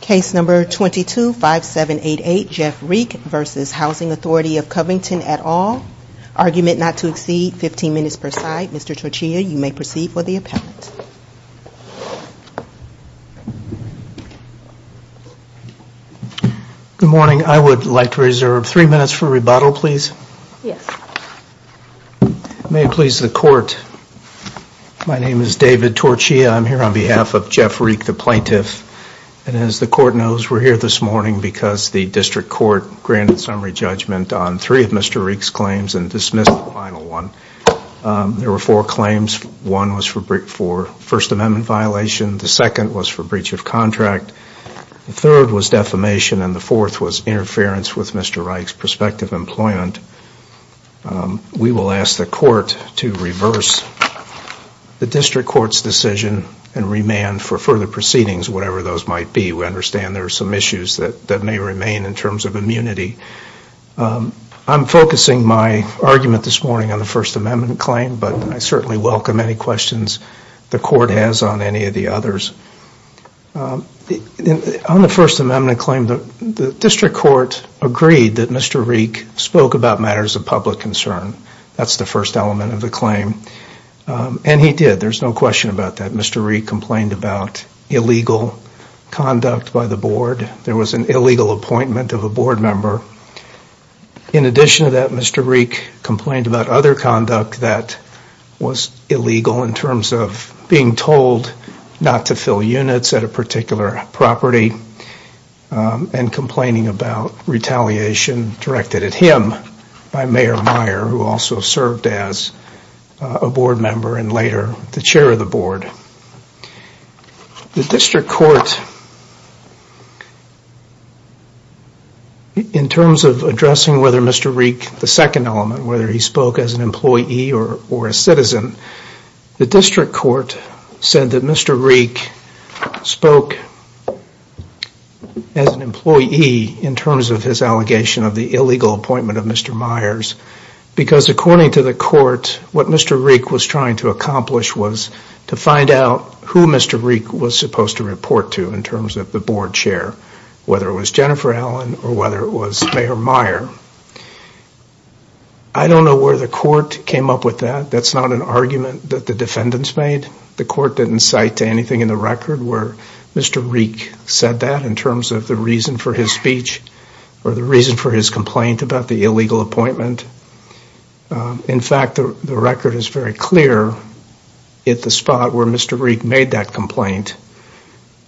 Case number 22-5788, Jeff Rieck v. Housing Authority of Covington et al. Argument not to exceed 15 minutes per side. Mr. Torchia, you may proceed for the appellate. Good morning. I would like to reserve three minutes for rebuttal, please. May it please the court, my name is David Torchia. I'm here on behalf of Jeff Rieck, the plaintiff, and as the court knows, we're here this morning because the district court granted summary judgment on three of Mr. Rieck's claims and dismissed the final one. There were four claims. One was for First Amendment violation, the second was for breach of contract, the third was defamation, and the fourth was interference with Mr. Rieck's prospective employment. We will ask the court to reverse the district court's decision and remand for further proceedings, whatever those might be. We understand there are some issues that may remain in terms of immunity. I'm focusing my argument this morning on the First Amendment claim, but I certainly welcome any questions the court has on any of the others. On the First Amendment claim, the district court agreed that Mr. Rieck spoke about matters of public concern. That's the first element of the claim. And he did, there's no question about that. Mr. Rieck complained about illegal conduct by the board. There was an illegal appointment of a board member. In addition to that, Mr. Rieck complained about other conduct that was illegal in terms of being told not to fill units at a particular property and complaining about retaliation directed at him by Mayor Meyer, who also served as a board member and later the chair of the board. The district court, in terms of addressing whether Mr. Rieck, the second element, whether he spoke as an employee or a citizen, the district court said that Mr. Rieck spoke as an employee in terms of his allegation of the illegal appointment of Mr. Because according to the court, what Mr. Rieck was trying to accomplish was to find out who Mr. Rieck was supposed to report to in terms of the board chair, whether it was Jennifer Allen or whether it was Mayor Meyer. I don't know where the court came up with that. That's not an argument that the defendants made. The court didn't cite anything in the record where Mr. Rieck said that in terms of the reason for his speech or the reason for his complaint about the illegal appointment. In fact, the record is very clear at the spot where Mr. Rieck made that complaint,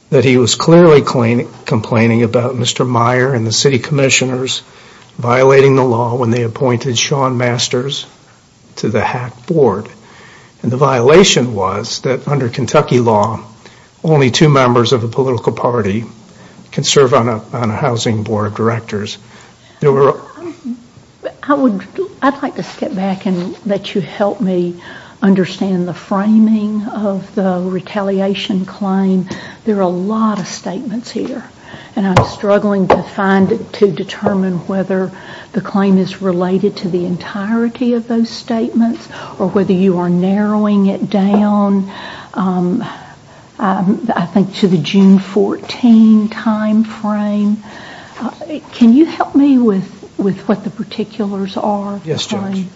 that he was clearly complaining about Mr. Meyer and the city commissioners violating the law when they appointed Shawn Masters to the HAC board. And the violation was that under Kentucky law, only two members of the political party can serve on a housing board of directors. I'd like to step back and let you help me understand the framing of the retaliation claim. There are a lot of statements here and I'm struggling to determine whether the claim is related to the entirety of those statements or whether you are narrowing it down I think to the June 14 timeframe. Can you help me with what the particulars are? Yes, Judge.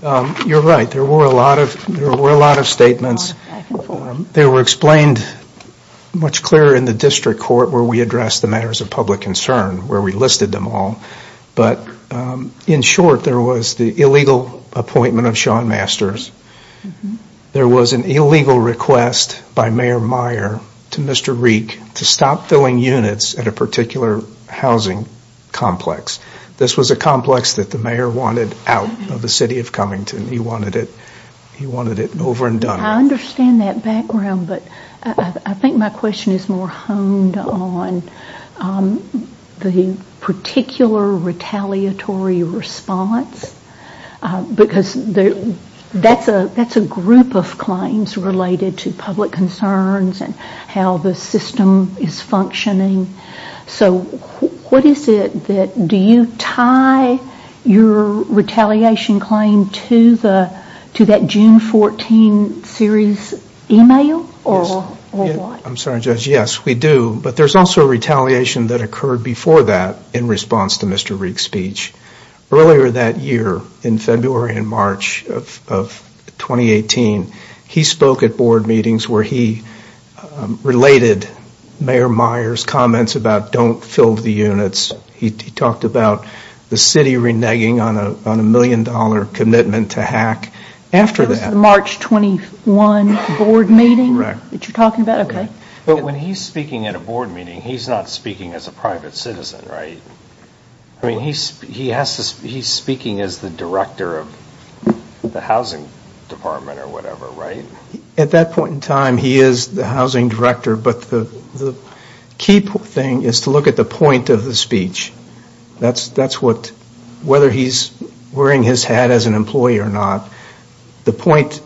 You're right. There were a lot of statements. They were explained much clearer in the district court where we addressed the matters of public concern, where we listed them all. But in short, there was the illegal appointment of Shawn Masters. There was an illegal request by Mayor Meyer to Mr. Rieck to stop filling units at a particular housing complex. This was a complex that the mayor wanted out of the city of Cummington. He wanted it over and done with. I understand that background, but I think my question is more honed on the particular retaliatory response because that's a group of claims related to public concerns and how the system is functioning. So what is it that, do you tie your retaliation claim to that June 14 series email or what? I'm sorry, Judge. Yes, we do. But there's also a retaliation that occurred before that in response to Mr. Rieck's speech. Earlier that year, in February and March of 2018, he spoke at board meetings where he related Mayor Meyer's comments about don't fill the units. He talked about the city reneging on a million dollar commitment to hack. After that, March 21 board meeting that you're talking about. OK, but when he's speaking at a board meeting, he's not speaking as a private citizen, right? I mean, he's speaking as the director of the housing department or whatever, right? At that point in time, he is the housing director, but the key thing is to look at the point of the speech. That's what, whether he's wearing his hat as an employee or not, the point,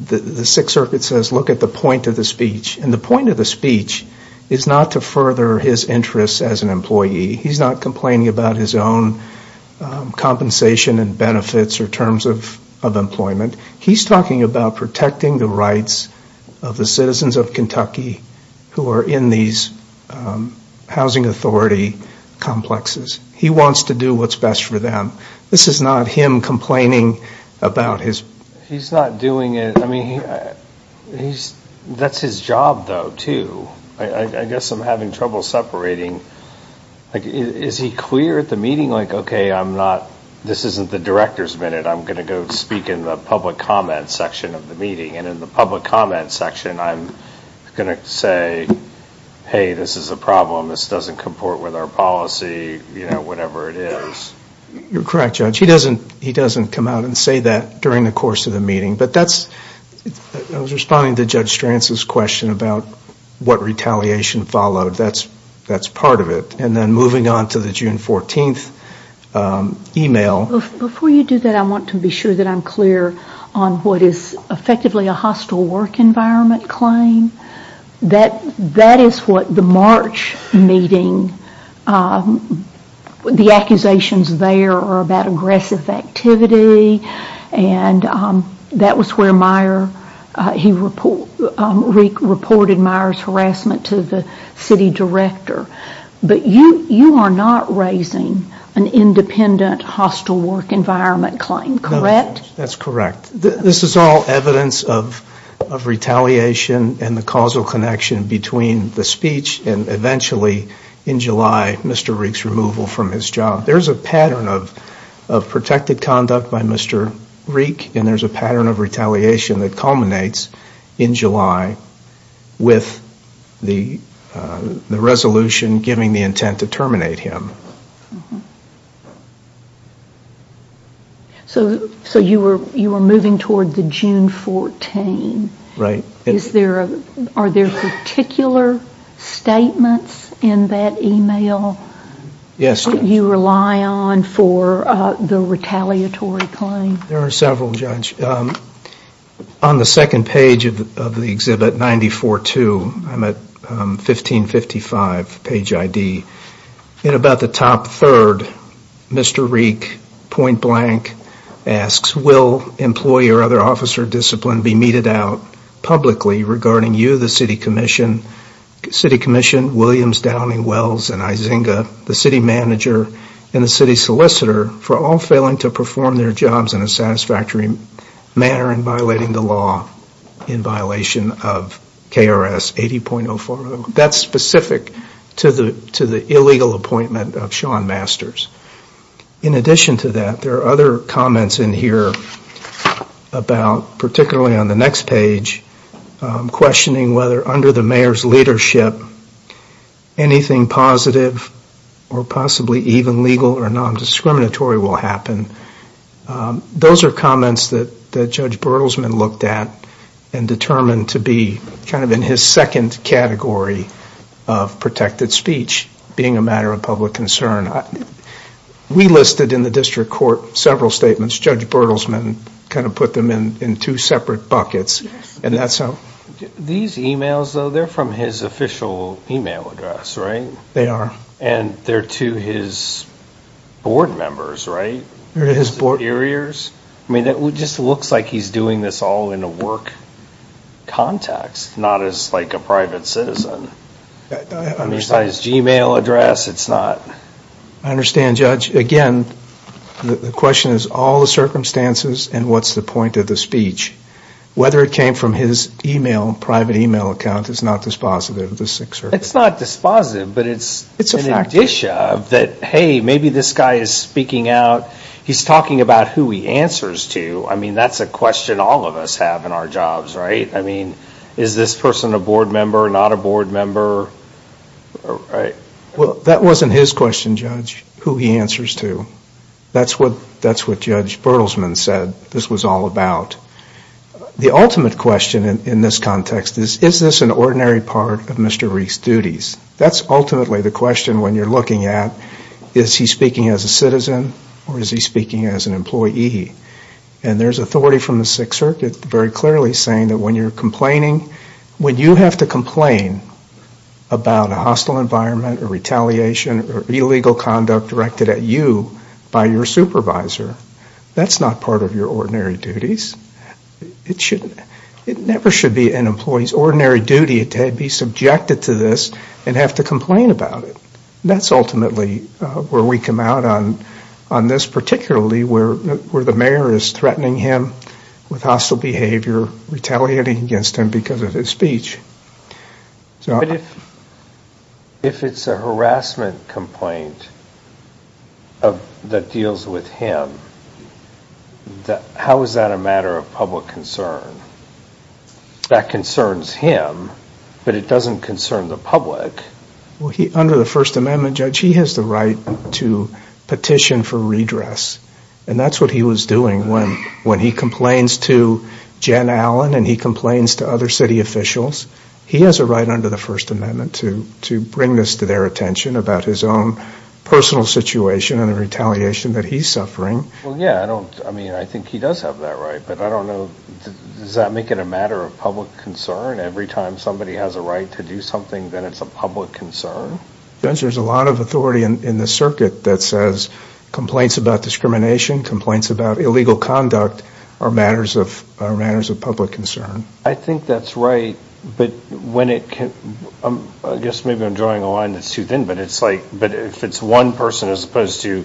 the Sixth Circuit says, look at the point of the speech. And the point of the speech is not to further his interests as an employee. He's not complaining about his own compensation and benefits or terms of employment. He's talking about protecting the rights of the citizens of Kentucky who are in these housing authority complexes. He wants to do what's best for them. This is not him complaining about his... He's not doing it. I mean, that's his job, though, too. I guess I'm having trouble separating. Is he clear at the meeting, like, OK, I'm not... This isn't the director's minute. I'm going to go speak in the public comment section of the meeting. And in the public comment section, I'm going to say, hey, this is a problem. This doesn't comport with our policy, you know, whatever it is. You're correct, Judge. He doesn't come out and say that during the course of the meeting. But that's... I was responding to Judge Strance's question about what retaliation followed. That's part of it. And then moving on to the June 14th email... Before you do that, I want to be sure that I'm clear on what is effectively a hostile work environment claim. That is what the March meeting, the accusations there are about aggressive activity. And that was where Meier, he reported Meier's harassment to the city director. But you are not raising an independent hostile work environment claim, correct? That's correct. This is all evidence of retaliation and the causal connection between the speech and eventually, in July, Mr. Reek's removal from his job. There's a pattern of protected conduct by Mr. Reek and there's a pattern of retaliation that culminates in July with the resolution giving the intent to terminate him. So you were moving toward the June 14th? Right. Are there particular statements in that email? Yes, Judge. That you rely on for the retaliatory claim? There are several, Judge. On the second page of the exhibit, 94-2, I'm at 1555 page ID. In about the top third, Mr. Reek, point blank, asks, will employee or other officer discipline be meted out publicly regarding you, the city commission, Williams, Downing, Wells, and Izinga, the city manager, and the city solicitor, for all failing to perform their jobs in a satisfactory manner and violating the law in violation of KRS 80.04? That's specific to the illegal appointment of Shawn Masters. In addition to that, there are other comments in here about, particularly on the next page, questioning whether under the mayor's leadership, anything positive or possibly even legal or non-discriminatory will happen. Those are comments that Judge Bertelsman looked at and determined to be kind of in his second category of protected speech being a matter of public concern. We listed in the district court several statements. Judge Bertelsman kind of put them in two separate buckets. These emails, though, they're from his official email address, right? They are. And they're to his board members, right? They're to his board. Interiors. I mean, it just looks like he's doing this all in a work context, not as like a private citizen. I understand. Besides Gmail address, it's not. I understand, Judge. Again, the question is all the circumstances and what's the point of the speech. Whether it came from his email, private email account, is not dispositive of the Sixth Circuit. It's not dispositive, but it's an addition of that, hey, maybe this guy is speaking out. He's talking about who he answers to. I mean, that's a question all of us have in our jobs, right? I mean, is this person a board member, not a board member, right? Well, that wasn't his question, Judge, who he answers to. That's what Judge Bertelsman said this was all about. The ultimate question in this context is, is this an ordinary part of Mr. Reek's duties? That's ultimately the question when you're looking at is he speaking as a citizen or is he speaking as an employee? And there's authority from the Sixth Circuit very clearly saying that when you're complaining, when you have to complain about a hostile environment or retaliation or illegal conduct directed at you by your supervisor, that's not part of your ordinary duties. It never should be an employee's ordinary duty to be subjected to this and have to complain about it. That's ultimately where we come out on this, particularly where the mayor is threatening him with hostile behavior, retaliating against him because of his speech. So if it's a harassment complaint that deals with him, how is that a matter of public concern? That concerns him, but it doesn't concern the public. Well, under the First Amendment, Judge, he has the right to petition for redress. And that's what he was doing when he complains to Jen Allen and he complains to other city officials. He has a right under the First Amendment to bring this to their attention about his own personal situation and the retaliation that he's suffering. Well, yeah, I don't, I mean, I think he does have that right. But I don't know, does that make it a matter of public concern? Every time somebody has a right to do something, then it's a public concern? Judge, there's a lot of authority in the circuit that says complaints about discrimination, complaints about illegal conduct are matters of public concern. I think that's right, but when it, I guess maybe I'm drawing a line that's too thin, but it's like, but if it's one person as opposed to,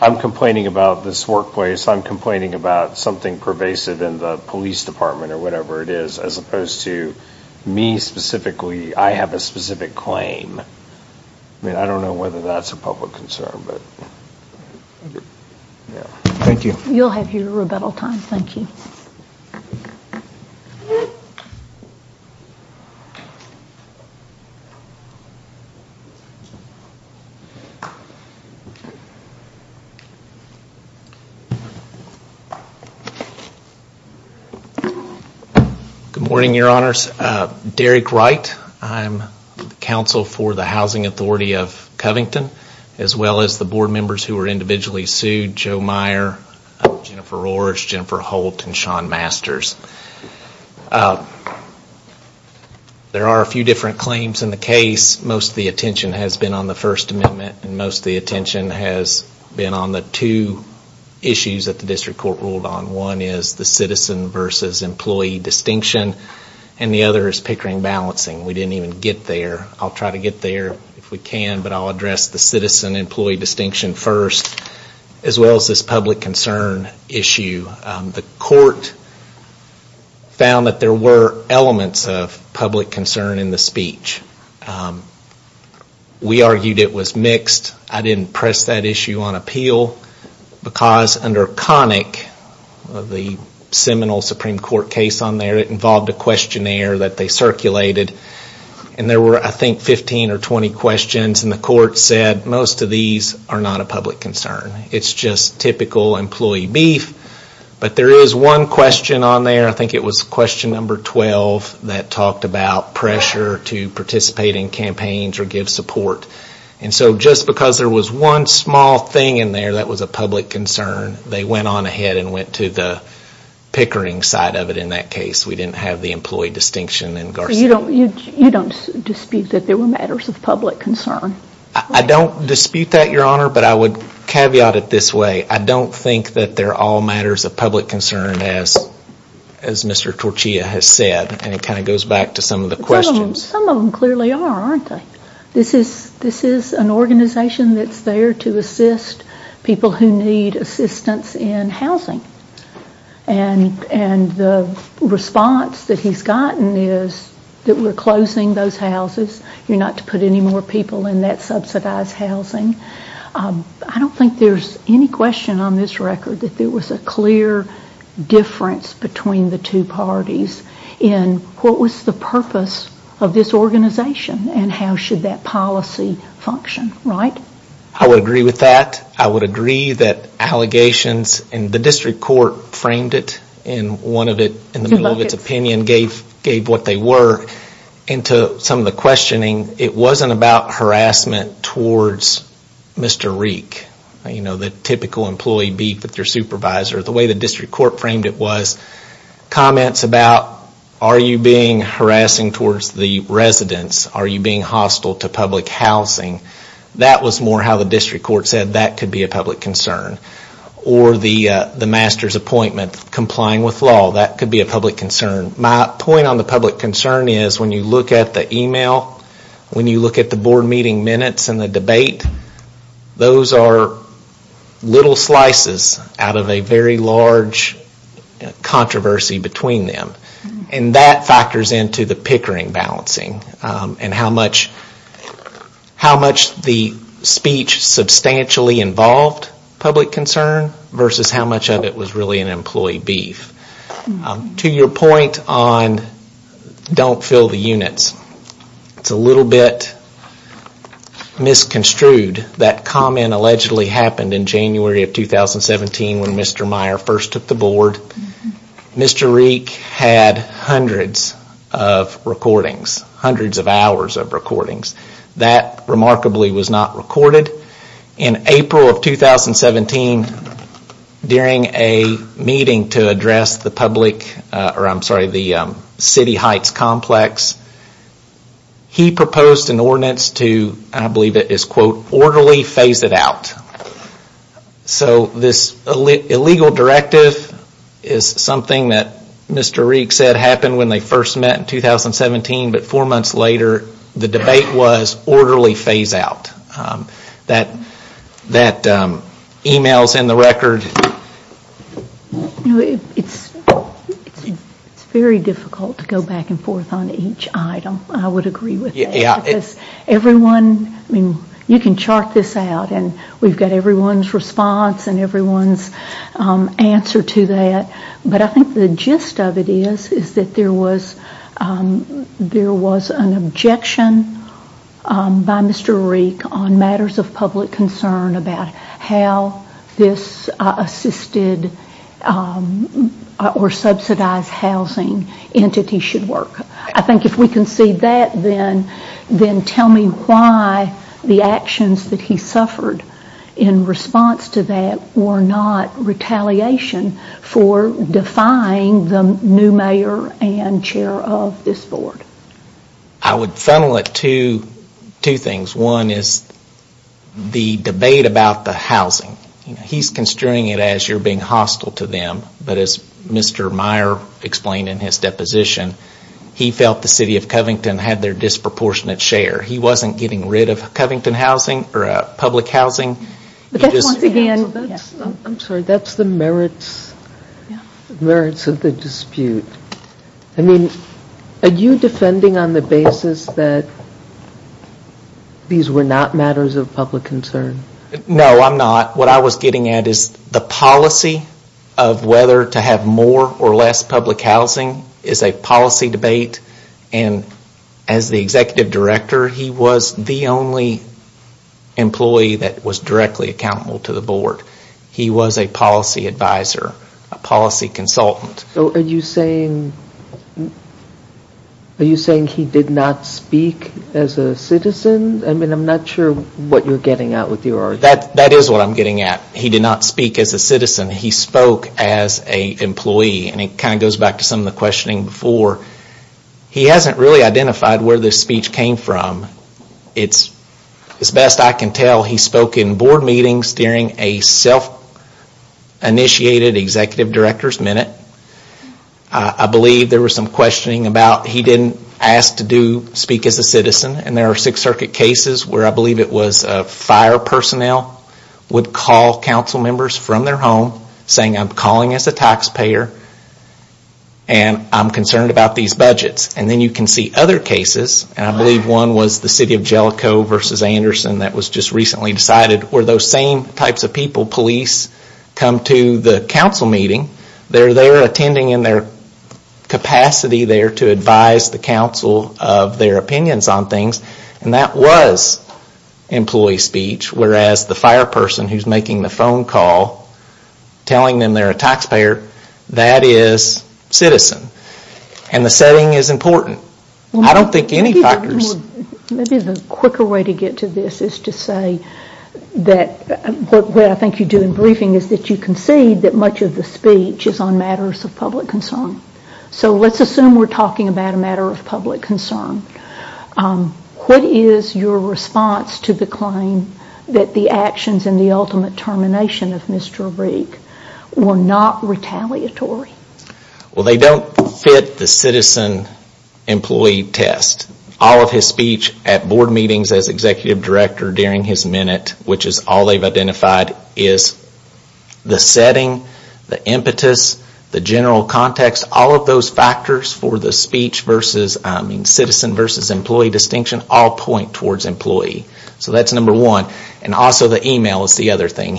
I'm complaining about this workplace, I'm complaining about something pervasive in the police department or whatever it is, as opposed to me specifically, I have a specific claim. I mean, I don't know whether that's a public concern, but, yeah. Thank you. You'll have your rebuttal time. Thank you. Good morning, Your Honors. Derek Wright, I'm counsel for the Housing Authority of Covington, as well as the board members who were individually sued, Joe Meyer, Jennifer Orrish, Jennifer Holt, and Sean Masters. There are a few different claims in the case. Most of the attention has been on the First Amendment, and most of the attention has been on the two issues that the district court ruled on. One is the citizen versus employee distinction, and the other is pickering balancing. We didn't even get there. I'll try to get there if we can, but I'll address the citizen employee distinction first, as well as this public concern issue. The court found that there were elements of public concern in the speech. We argued it was mixed. I didn't press that issue on appeal, because under Connick, the seminal Supreme Court case on there, it involved a questionnaire that they circulated. And there were, I think, 15 or 20 questions, and the court said most of these are not a public concern. It's just typical employee beef. But there is one question on there, I think it was question number 12, that talked about pressure to participate in campaigns or give support. And so just because there was one small thing in there that was a public concern, they went on ahead and went to the pickering side of it in that case. We didn't have the employee distinction in Garcetti. You don't dispute that there were matters of public concern? I don't dispute that, Your Honor, but I would caveat it this way. I don't think that they're all matters of public concern, as Mr. Torchia has said, and it kind of goes back to some of the questions. Some of them clearly are, aren't they? This is an organization that's there to assist people who need assistance in housing. And the response that he's gotten is that we're closing those houses. You're not to put any more people in that subsidized housing. I don't think there's any question on this record that there was a clear difference between the two parties in what was the purpose of this organization and how should that policy function, right? I would agree with that. I would agree that allegations, and the district court framed it in one of it, in the middle of its opinion, gave what they were. And to some of the questioning, it wasn't about harassment towards Mr. Reek, the typical employee beef with their supervisor. The way the district court framed it was comments about, are you being harassing towards the residents? Are you being hostile to public housing? That was more how the district court said that could be a public concern. Or the master's appointment, complying with law, that could be a public concern. My point on the public concern is when you look at the email, when you look at the board meeting minutes and the debate, those are little slices out of a very large controversy between them. And that factors into the pickering balancing and how much the speech substantially involved public concern versus how much of it was really an employee beef. To your point on don't fill the units, it's a little bit misconstrued. That comment allegedly happened in January of 2017 when Mr. Reek had hundreds of recordings, hundreds of hours of recordings. That remarkably was not recorded. In April of 2017, during a meeting to address the public, or I'm sorry, the City Heights Complex, he proposed an ordinance to, I believe it is quote, orderly phase it out. So this illegal directive is something that Mr. Reek said happened when they first met in 2017, but four months later the debate was orderly phase out. That email's in the record. It's very difficult to go back and forth on each item. I would agree with that because everyone, I mean, you can chart this out and we've got everyone's response and everyone's answer to that. But I think the gist of it is, is that there was an objection by Mr. Reek on matters of public concern about how this assisted or subsidized housing entity should work. I think if we can see that, then tell me why the actions that he suffered in response to that were not retaliation for defying the new mayor and chair of this board. I would funnel it to two things. One is the debate about the housing. He's construing it as you're being hostile to them, but as Mr. Meyer explained in his deposition, he felt the city of Covington had their disproportionate share. He wasn't getting rid of Covington housing or public housing. But that's once again, I'm sorry, that's the merits of the dispute. I mean, are you defending on the basis that these were not matters of public concern? No, I'm not. What I was getting at is the policy of whether to have more or less public housing is a policy debate. And as the executive director, he was the only employee that was directly accountable to the board. He was a policy advisor, a policy consultant. So are you saying he did not speak as a citizen? I mean, I'm not sure what you're getting at with your argument. That is what I'm getting at. He did not speak as a citizen. He spoke as a employee. And it kind of goes back to some of the questioning before. He hasn't really identified where this speech came from. It's, as best I can tell, he spoke in board meetings during a self-initiated executive director's minute. I believe there was some questioning about he didn't ask to speak as a citizen. And there are Sixth Circuit cases where I believe it was fire personnel would call council members from their home saying, I'm calling as a taxpayer. And I'm concerned about these budgets. And then you can see other cases. And I believe one was the city of Jellicoe versus Anderson that was just recently decided, where those same types of people, police, come to the council meeting. They're there attending in their capacity there to advise the council of their opinions on things, and that was employee speech. Whereas the fire person who's making the phone call, telling them they're a taxpayer, that is citizen. And the setting is important. I don't think any factors. Maybe the quicker way to get to this is to say that what I think you do in briefing is that you concede that much of the speech is on matters of public concern. So let's assume we're talking about a matter of public concern. What is your response to the claim that the actions and the ultimate termination of Mr. Rigg were not retaliatory? Well, they don't fit the citizen employee test. All of his speech at board meetings as executive director during his minute, which is all they've identified, is the setting, the impetus, the general context, all of those factors for the speech versus, citizen versus employee distinction, all point towards employee. So that's number one. And also the email is the other thing,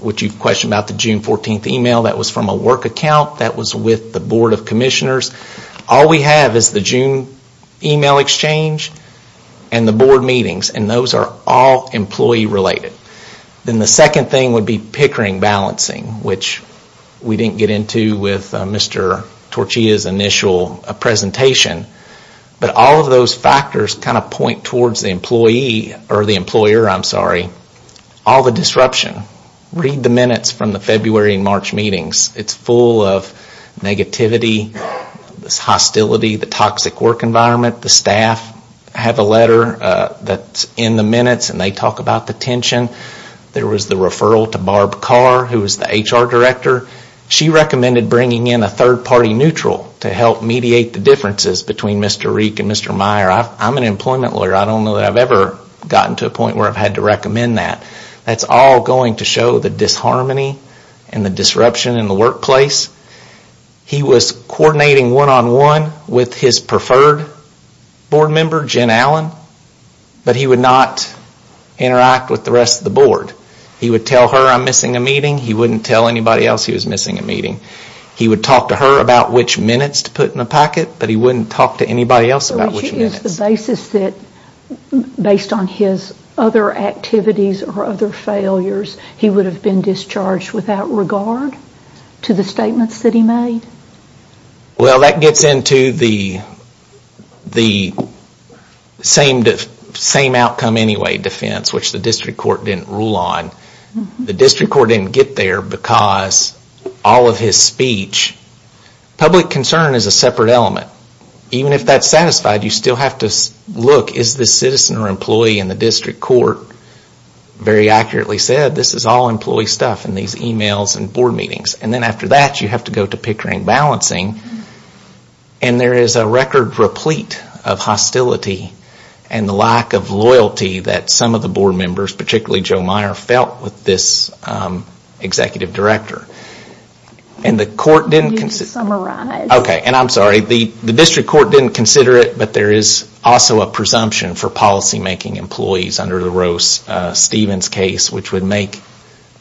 which you've questioned about the June 14th email. That was from a work account, that was with the board of commissioners. All we have is the June email exchange and the board meetings, and those are all employee related. Then the second thing would be pickering balancing, which we didn't get into with Mr. Torchia's initial presentation. But all of those factors kind of point towards the employee, or the employer, I'm sorry, all the disruption. Read the minutes from the February and March meetings. It's full of negativity, this hostility, the toxic work environment. The staff have a letter that's in the minutes and they talk about the tension. There was the referral to Barb Carr, who was the HR director. She recommended bringing in a third party neutral to help mediate the differences between Mr. Reek and Mr. Meyer. I'm an employment lawyer, I don't know that I've ever gotten to a point where I've had to recommend that. That's all going to show the disharmony and the disruption in the workplace. He was coordinating one on one with his preferred board member, Jen Allen. But he would not interact with the rest of the board. He would tell her I'm missing a meeting, he wouldn't tell anybody else he was missing a meeting. He would talk to her about which minutes to put in a packet, but he wouldn't talk to anybody else about which minutes. Which is the basis that, based on his other activities or other failures, he would have been discharged without regard to the statements that he made? Well, that gets into the same outcome anyway defense, which the district court didn't rule on. The district court didn't get there because all of his speech, public concern is a separate element. Even if that's satisfied, you still have to look, is this citizen or employee in the district court? Very accurately said, this is all employee stuff in these emails and board meetings. And then after that, you have to go to Pickering Balancing. And there is a record replete of hostility and the lack of loyalty that some of the board members, particularly Joe Meyer, felt with this executive director. And the court didn't consider- Okay, and I'm sorry, the district court didn't consider it, but there is also a presumption for policy making employees under the Rose-Stevens case, which would make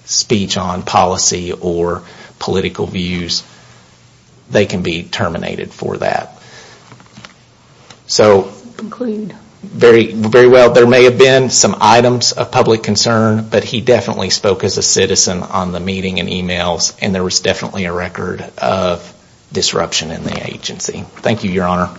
speech on policy or political views. They can be terminated for that. So- Conclude. Very well, there may have been some items of public concern, but he definitely spoke as a citizen on the meeting and emails, and there was definitely a record of disruption in the agency. Thank you, Your Honor.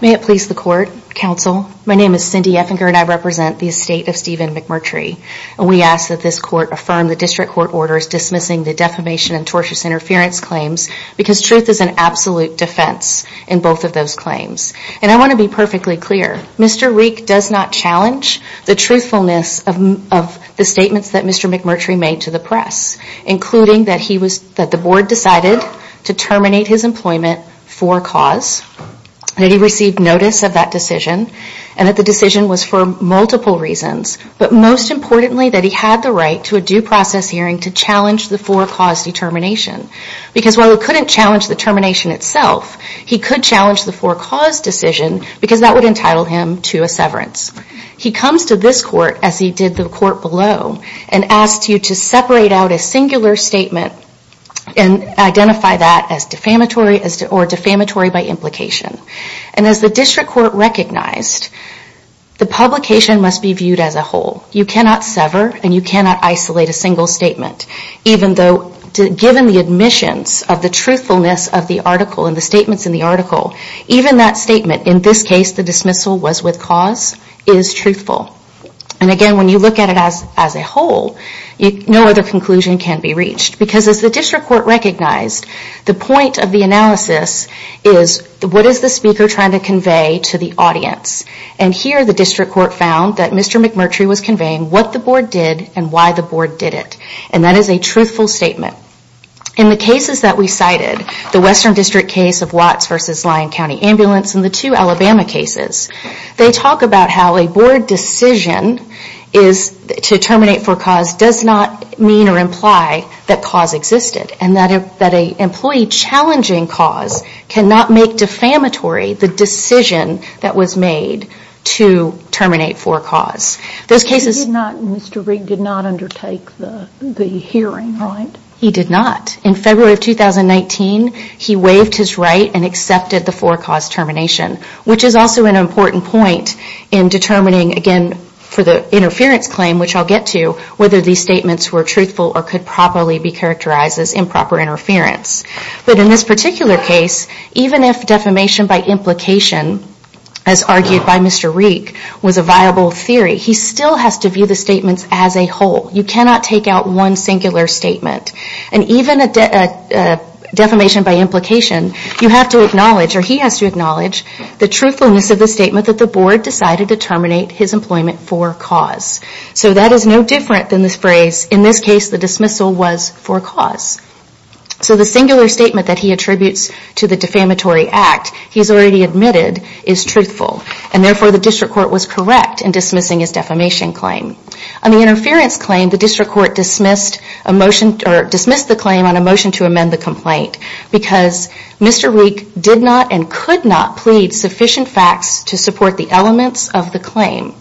May it please the court, counsel, my name is Cindy Effinger and I represent the estate of Stephen McMurtry. And we ask that this court affirm the district court orders dismissing the defamation and tortious interference claims, because truth is an absolute defense in both of those claims. And I want to be perfectly clear, Mr. Reek does not challenge the truthfulness of the statements that Mr. McMurtry made to the press. Including that he was, that the board decided to terminate his employment for cause, that he received notice of that decision, and that the decision was for multiple reasons. But most importantly, that he had the right to a due process hearing to challenge the for cause determination. Because while he couldn't challenge the termination itself, he could challenge the for cause decision, because that would entitle him to a severance. He comes to this court, as he did the court below, and asks you to separate out a singular statement and identify that as defamatory or defamatory by implication. And as the district court recognized, the publication must be viewed as a whole. You cannot sever and you cannot isolate a single statement. Even though, given the admissions of the truthfulness of the article and the statements in the article, even that statement, in this case the dismissal was with cause, is truthful. And again, when you look at it as a whole, no other conclusion can be reached. Because as the district court recognized, the point of the analysis is what is the speaker trying to convey to the audience? And here the district court found that Mr. McMurtry was conveying what the board did and why the board did it. And that is a truthful statement. In the cases that we cited, the Western District case of Watts versus Lyon County Ambulance and the two Alabama cases. They talk about how a board decision to terminate for cause does not mean or imply that cause existed. And that an employee challenging cause cannot make defamatory the decision that was made to terminate for cause. Those cases- He did not, Mr. Rigg, did not undertake the hearing, right? He did not. In February of 2019, he waived his right and accepted the for cause termination, which is also an important point in determining, again, for the interference claim, which I'll get to, whether these statements were truthful or could properly be characterized as improper interference. But in this particular case, even if defamation by implication, as argued by Mr. Rigg, was a viable theory, he still has to view the statements as a whole. You cannot take out one singular statement. And even a defamation by implication, you have to acknowledge, or he has to acknowledge, the truthfulness of the statement that the board decided to terminate his employment for cause. So that is no different than this phrase, in this case, the dismissal was for cause. So the singular statement that he attributes to the defamatory act, he's already admitted, is truthful. And therefore, the district court was correct in dismissing his defamation claim. On the interference claim, the district court dismissed the claim on a motion to amend the complaint, because Mr. Rigg did not and could not plead sufficient facts to support the elements of the claim.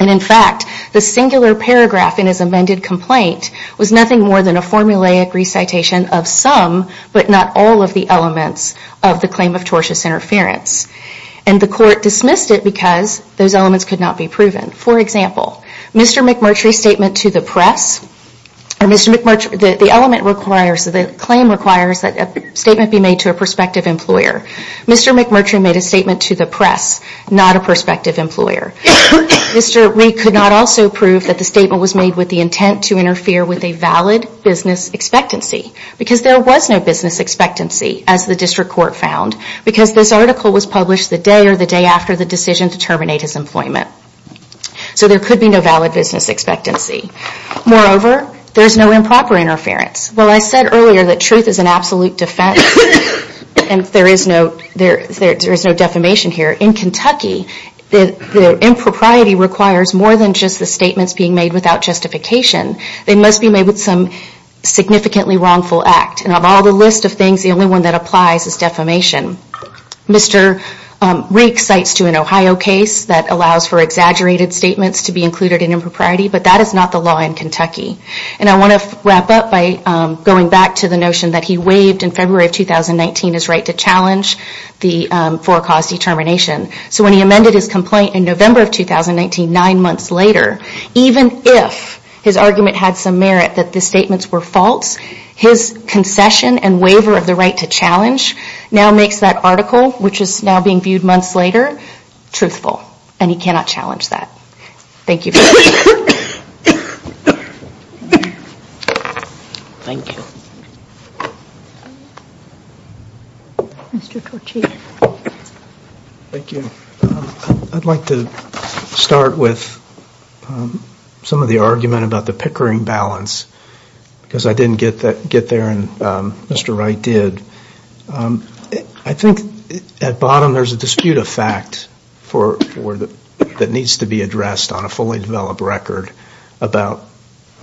And in fact, the singular paragraph in his amended complaint was nothing more than a formulaic recitation of some, but not all, of the elements of the claim of tortious interference. And the court dismissed it because those elements could not be proven. For example, Mr. McMurtry's statement to the press, or Mr. McMurtry, the element requires, the claim requires that a statement be made to a prospective employer, Mr. McMurtry made a statement to the press, not a prospective employer. Mr. Rigg could not also prove that the statement was made with the intent to interfere with a valid business expectancy, because there was no business expectancy, as the district court found, because this article was published the day or the day after the decision to terminate his employment. So there could be no valid business expectancy. Moreover, there's no improper interference. Well, I said earlier that truth is an absolute defense, and there is no defamation here. In Kentucky, the impropriety requires more than just the statements being made without justification, they must be made with some significantly wrongful act. And of all the list of things, the only one that applies is defamation. Mr. Rigg cites to an Ohio case that allows for exaggerated statements to be included in impropriety, but that is not the law in Kentucky. And I wanna wrap up by going back to the notion that he waived in February of 2019 his right to challenge the for-cause determination. So when he amended his complaint in November of 2019, nine months later, even if his argument had some merit that the statements were false, his concession and waiver of the right to challenge now makes that article, which is now being viewed months later, truthful. And he cannot challenge that. Thank you very much. Thank you. Mr. Torcic. Thank you. I'd like to start with some of the argument about the pickering balance. Because I didn't get there, and Mr. Wright did. I think at bottom there's a dispute of fact that needs to be addressed on a fully developed record about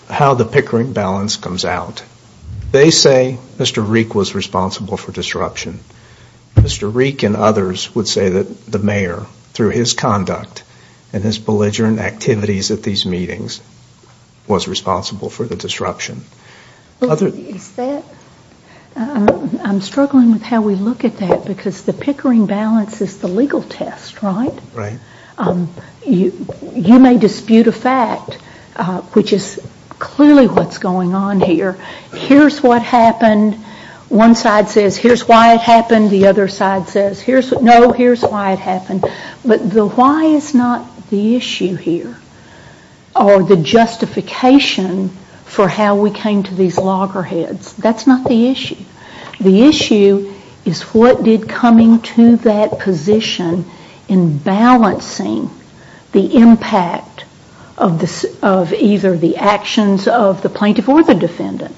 how the pickering balance comes out. They say Mr. Rigg was responsible for disruption. Mr. Rigg and others would say that the mayor, through his conduct and his belligerent activities at these meetings, was responsible for the disruption. Is that, I'm struggling with how we look at that, because the pickering balance is the legal test, right? Right. You may dispute a fact, which is clearly what's going on here. Here's what happened. One side says, here's why it happened. The other side says, no, here's why it happened. But the why is not the issue here, or the justification for how we came to these loggerheads. That's not the issue. The issue is what did coming to that position in balancing the impact of either the actions of the plaintiff or the defendant.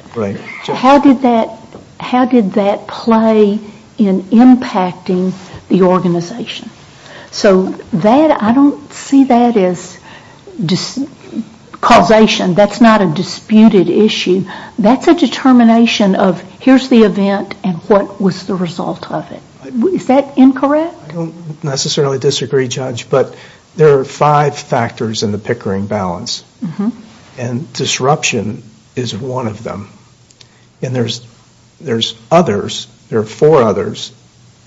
So I don't see that as causation. That's not a disputed issue. That's a determination of here's the event and what was the result of it. Is that incorrect? I don't necessarily disagree, Judge, but there are five factors in the pickering balance. And disruption is one of them. And there's others, there are four others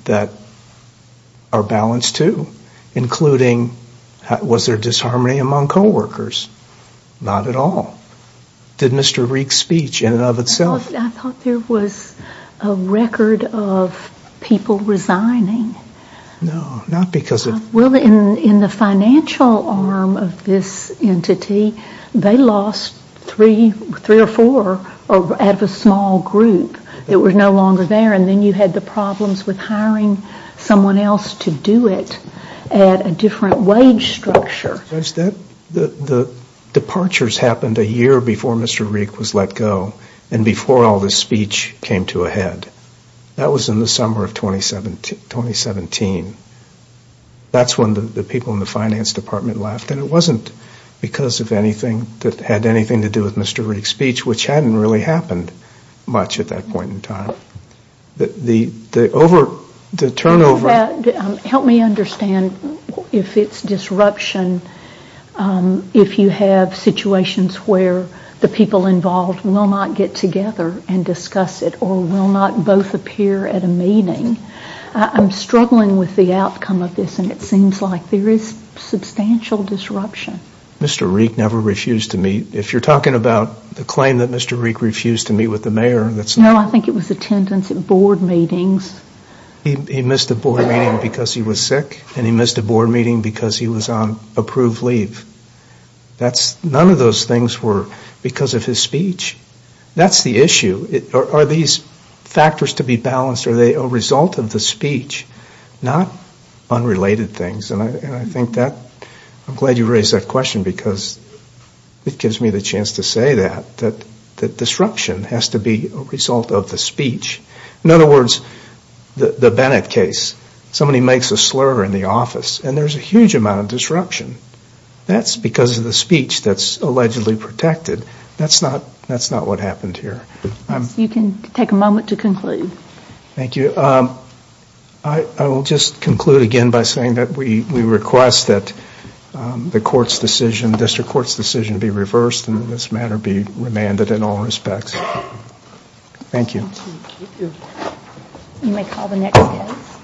that are balanced too, including was there disharmony among co-workers? Not at all. Did Mr. Reek's speech in and of itself- I thought there was a record of people resigning. No, not because of- Well, in the financial arm of this entity, they lost three or four out of a small group that were no longer there. And then you had the problems with hiring someone else to do it at a different wage structure. Judge, the departures happened a year before Mr. Reek was let go, and before all this speech came to a head. That was in the summer of 2017. That's when the people in the finance department left. And it wasn't because of anything that had anything to do with Mr. Reek's speech, which hadn't really happened much at that point in time. The turnover- Help me understand if it's disruption, if you have situations where the people involved will not get together and discuss it, or will not both appear at a meeting. I'm struggling with the outcome of this, and it seems like there is substantial disruption. Mr. Reek never refused to meet. If you're talking about the claim that Mr. Reek refused to meet with the mayor, that's- No, I think it was attendance at board meetings. He missed a board meeting because he was sick, and he missed a board meeting because he was on approved leave. None of those things were because of his speech. That's the issue. Are these factors to be balanced? Are they a result of the speech, not unrelated things? And I think that- I'm glad you raised that question because it gives me the chance to say that, that disruption has to be a result of the speech. In other words, the Bennett case. Somebody makes a slur in the office, and there's a huge amount of disruption. That's because of the speech that's allegedly protected. That's not what happened here. You can take a moment to conclude. Thank you. I will just conclude again by saying that we request that the court's decision, district court's decision be reversed and this matter be remanded in all respects. Thank you. You may call the next case.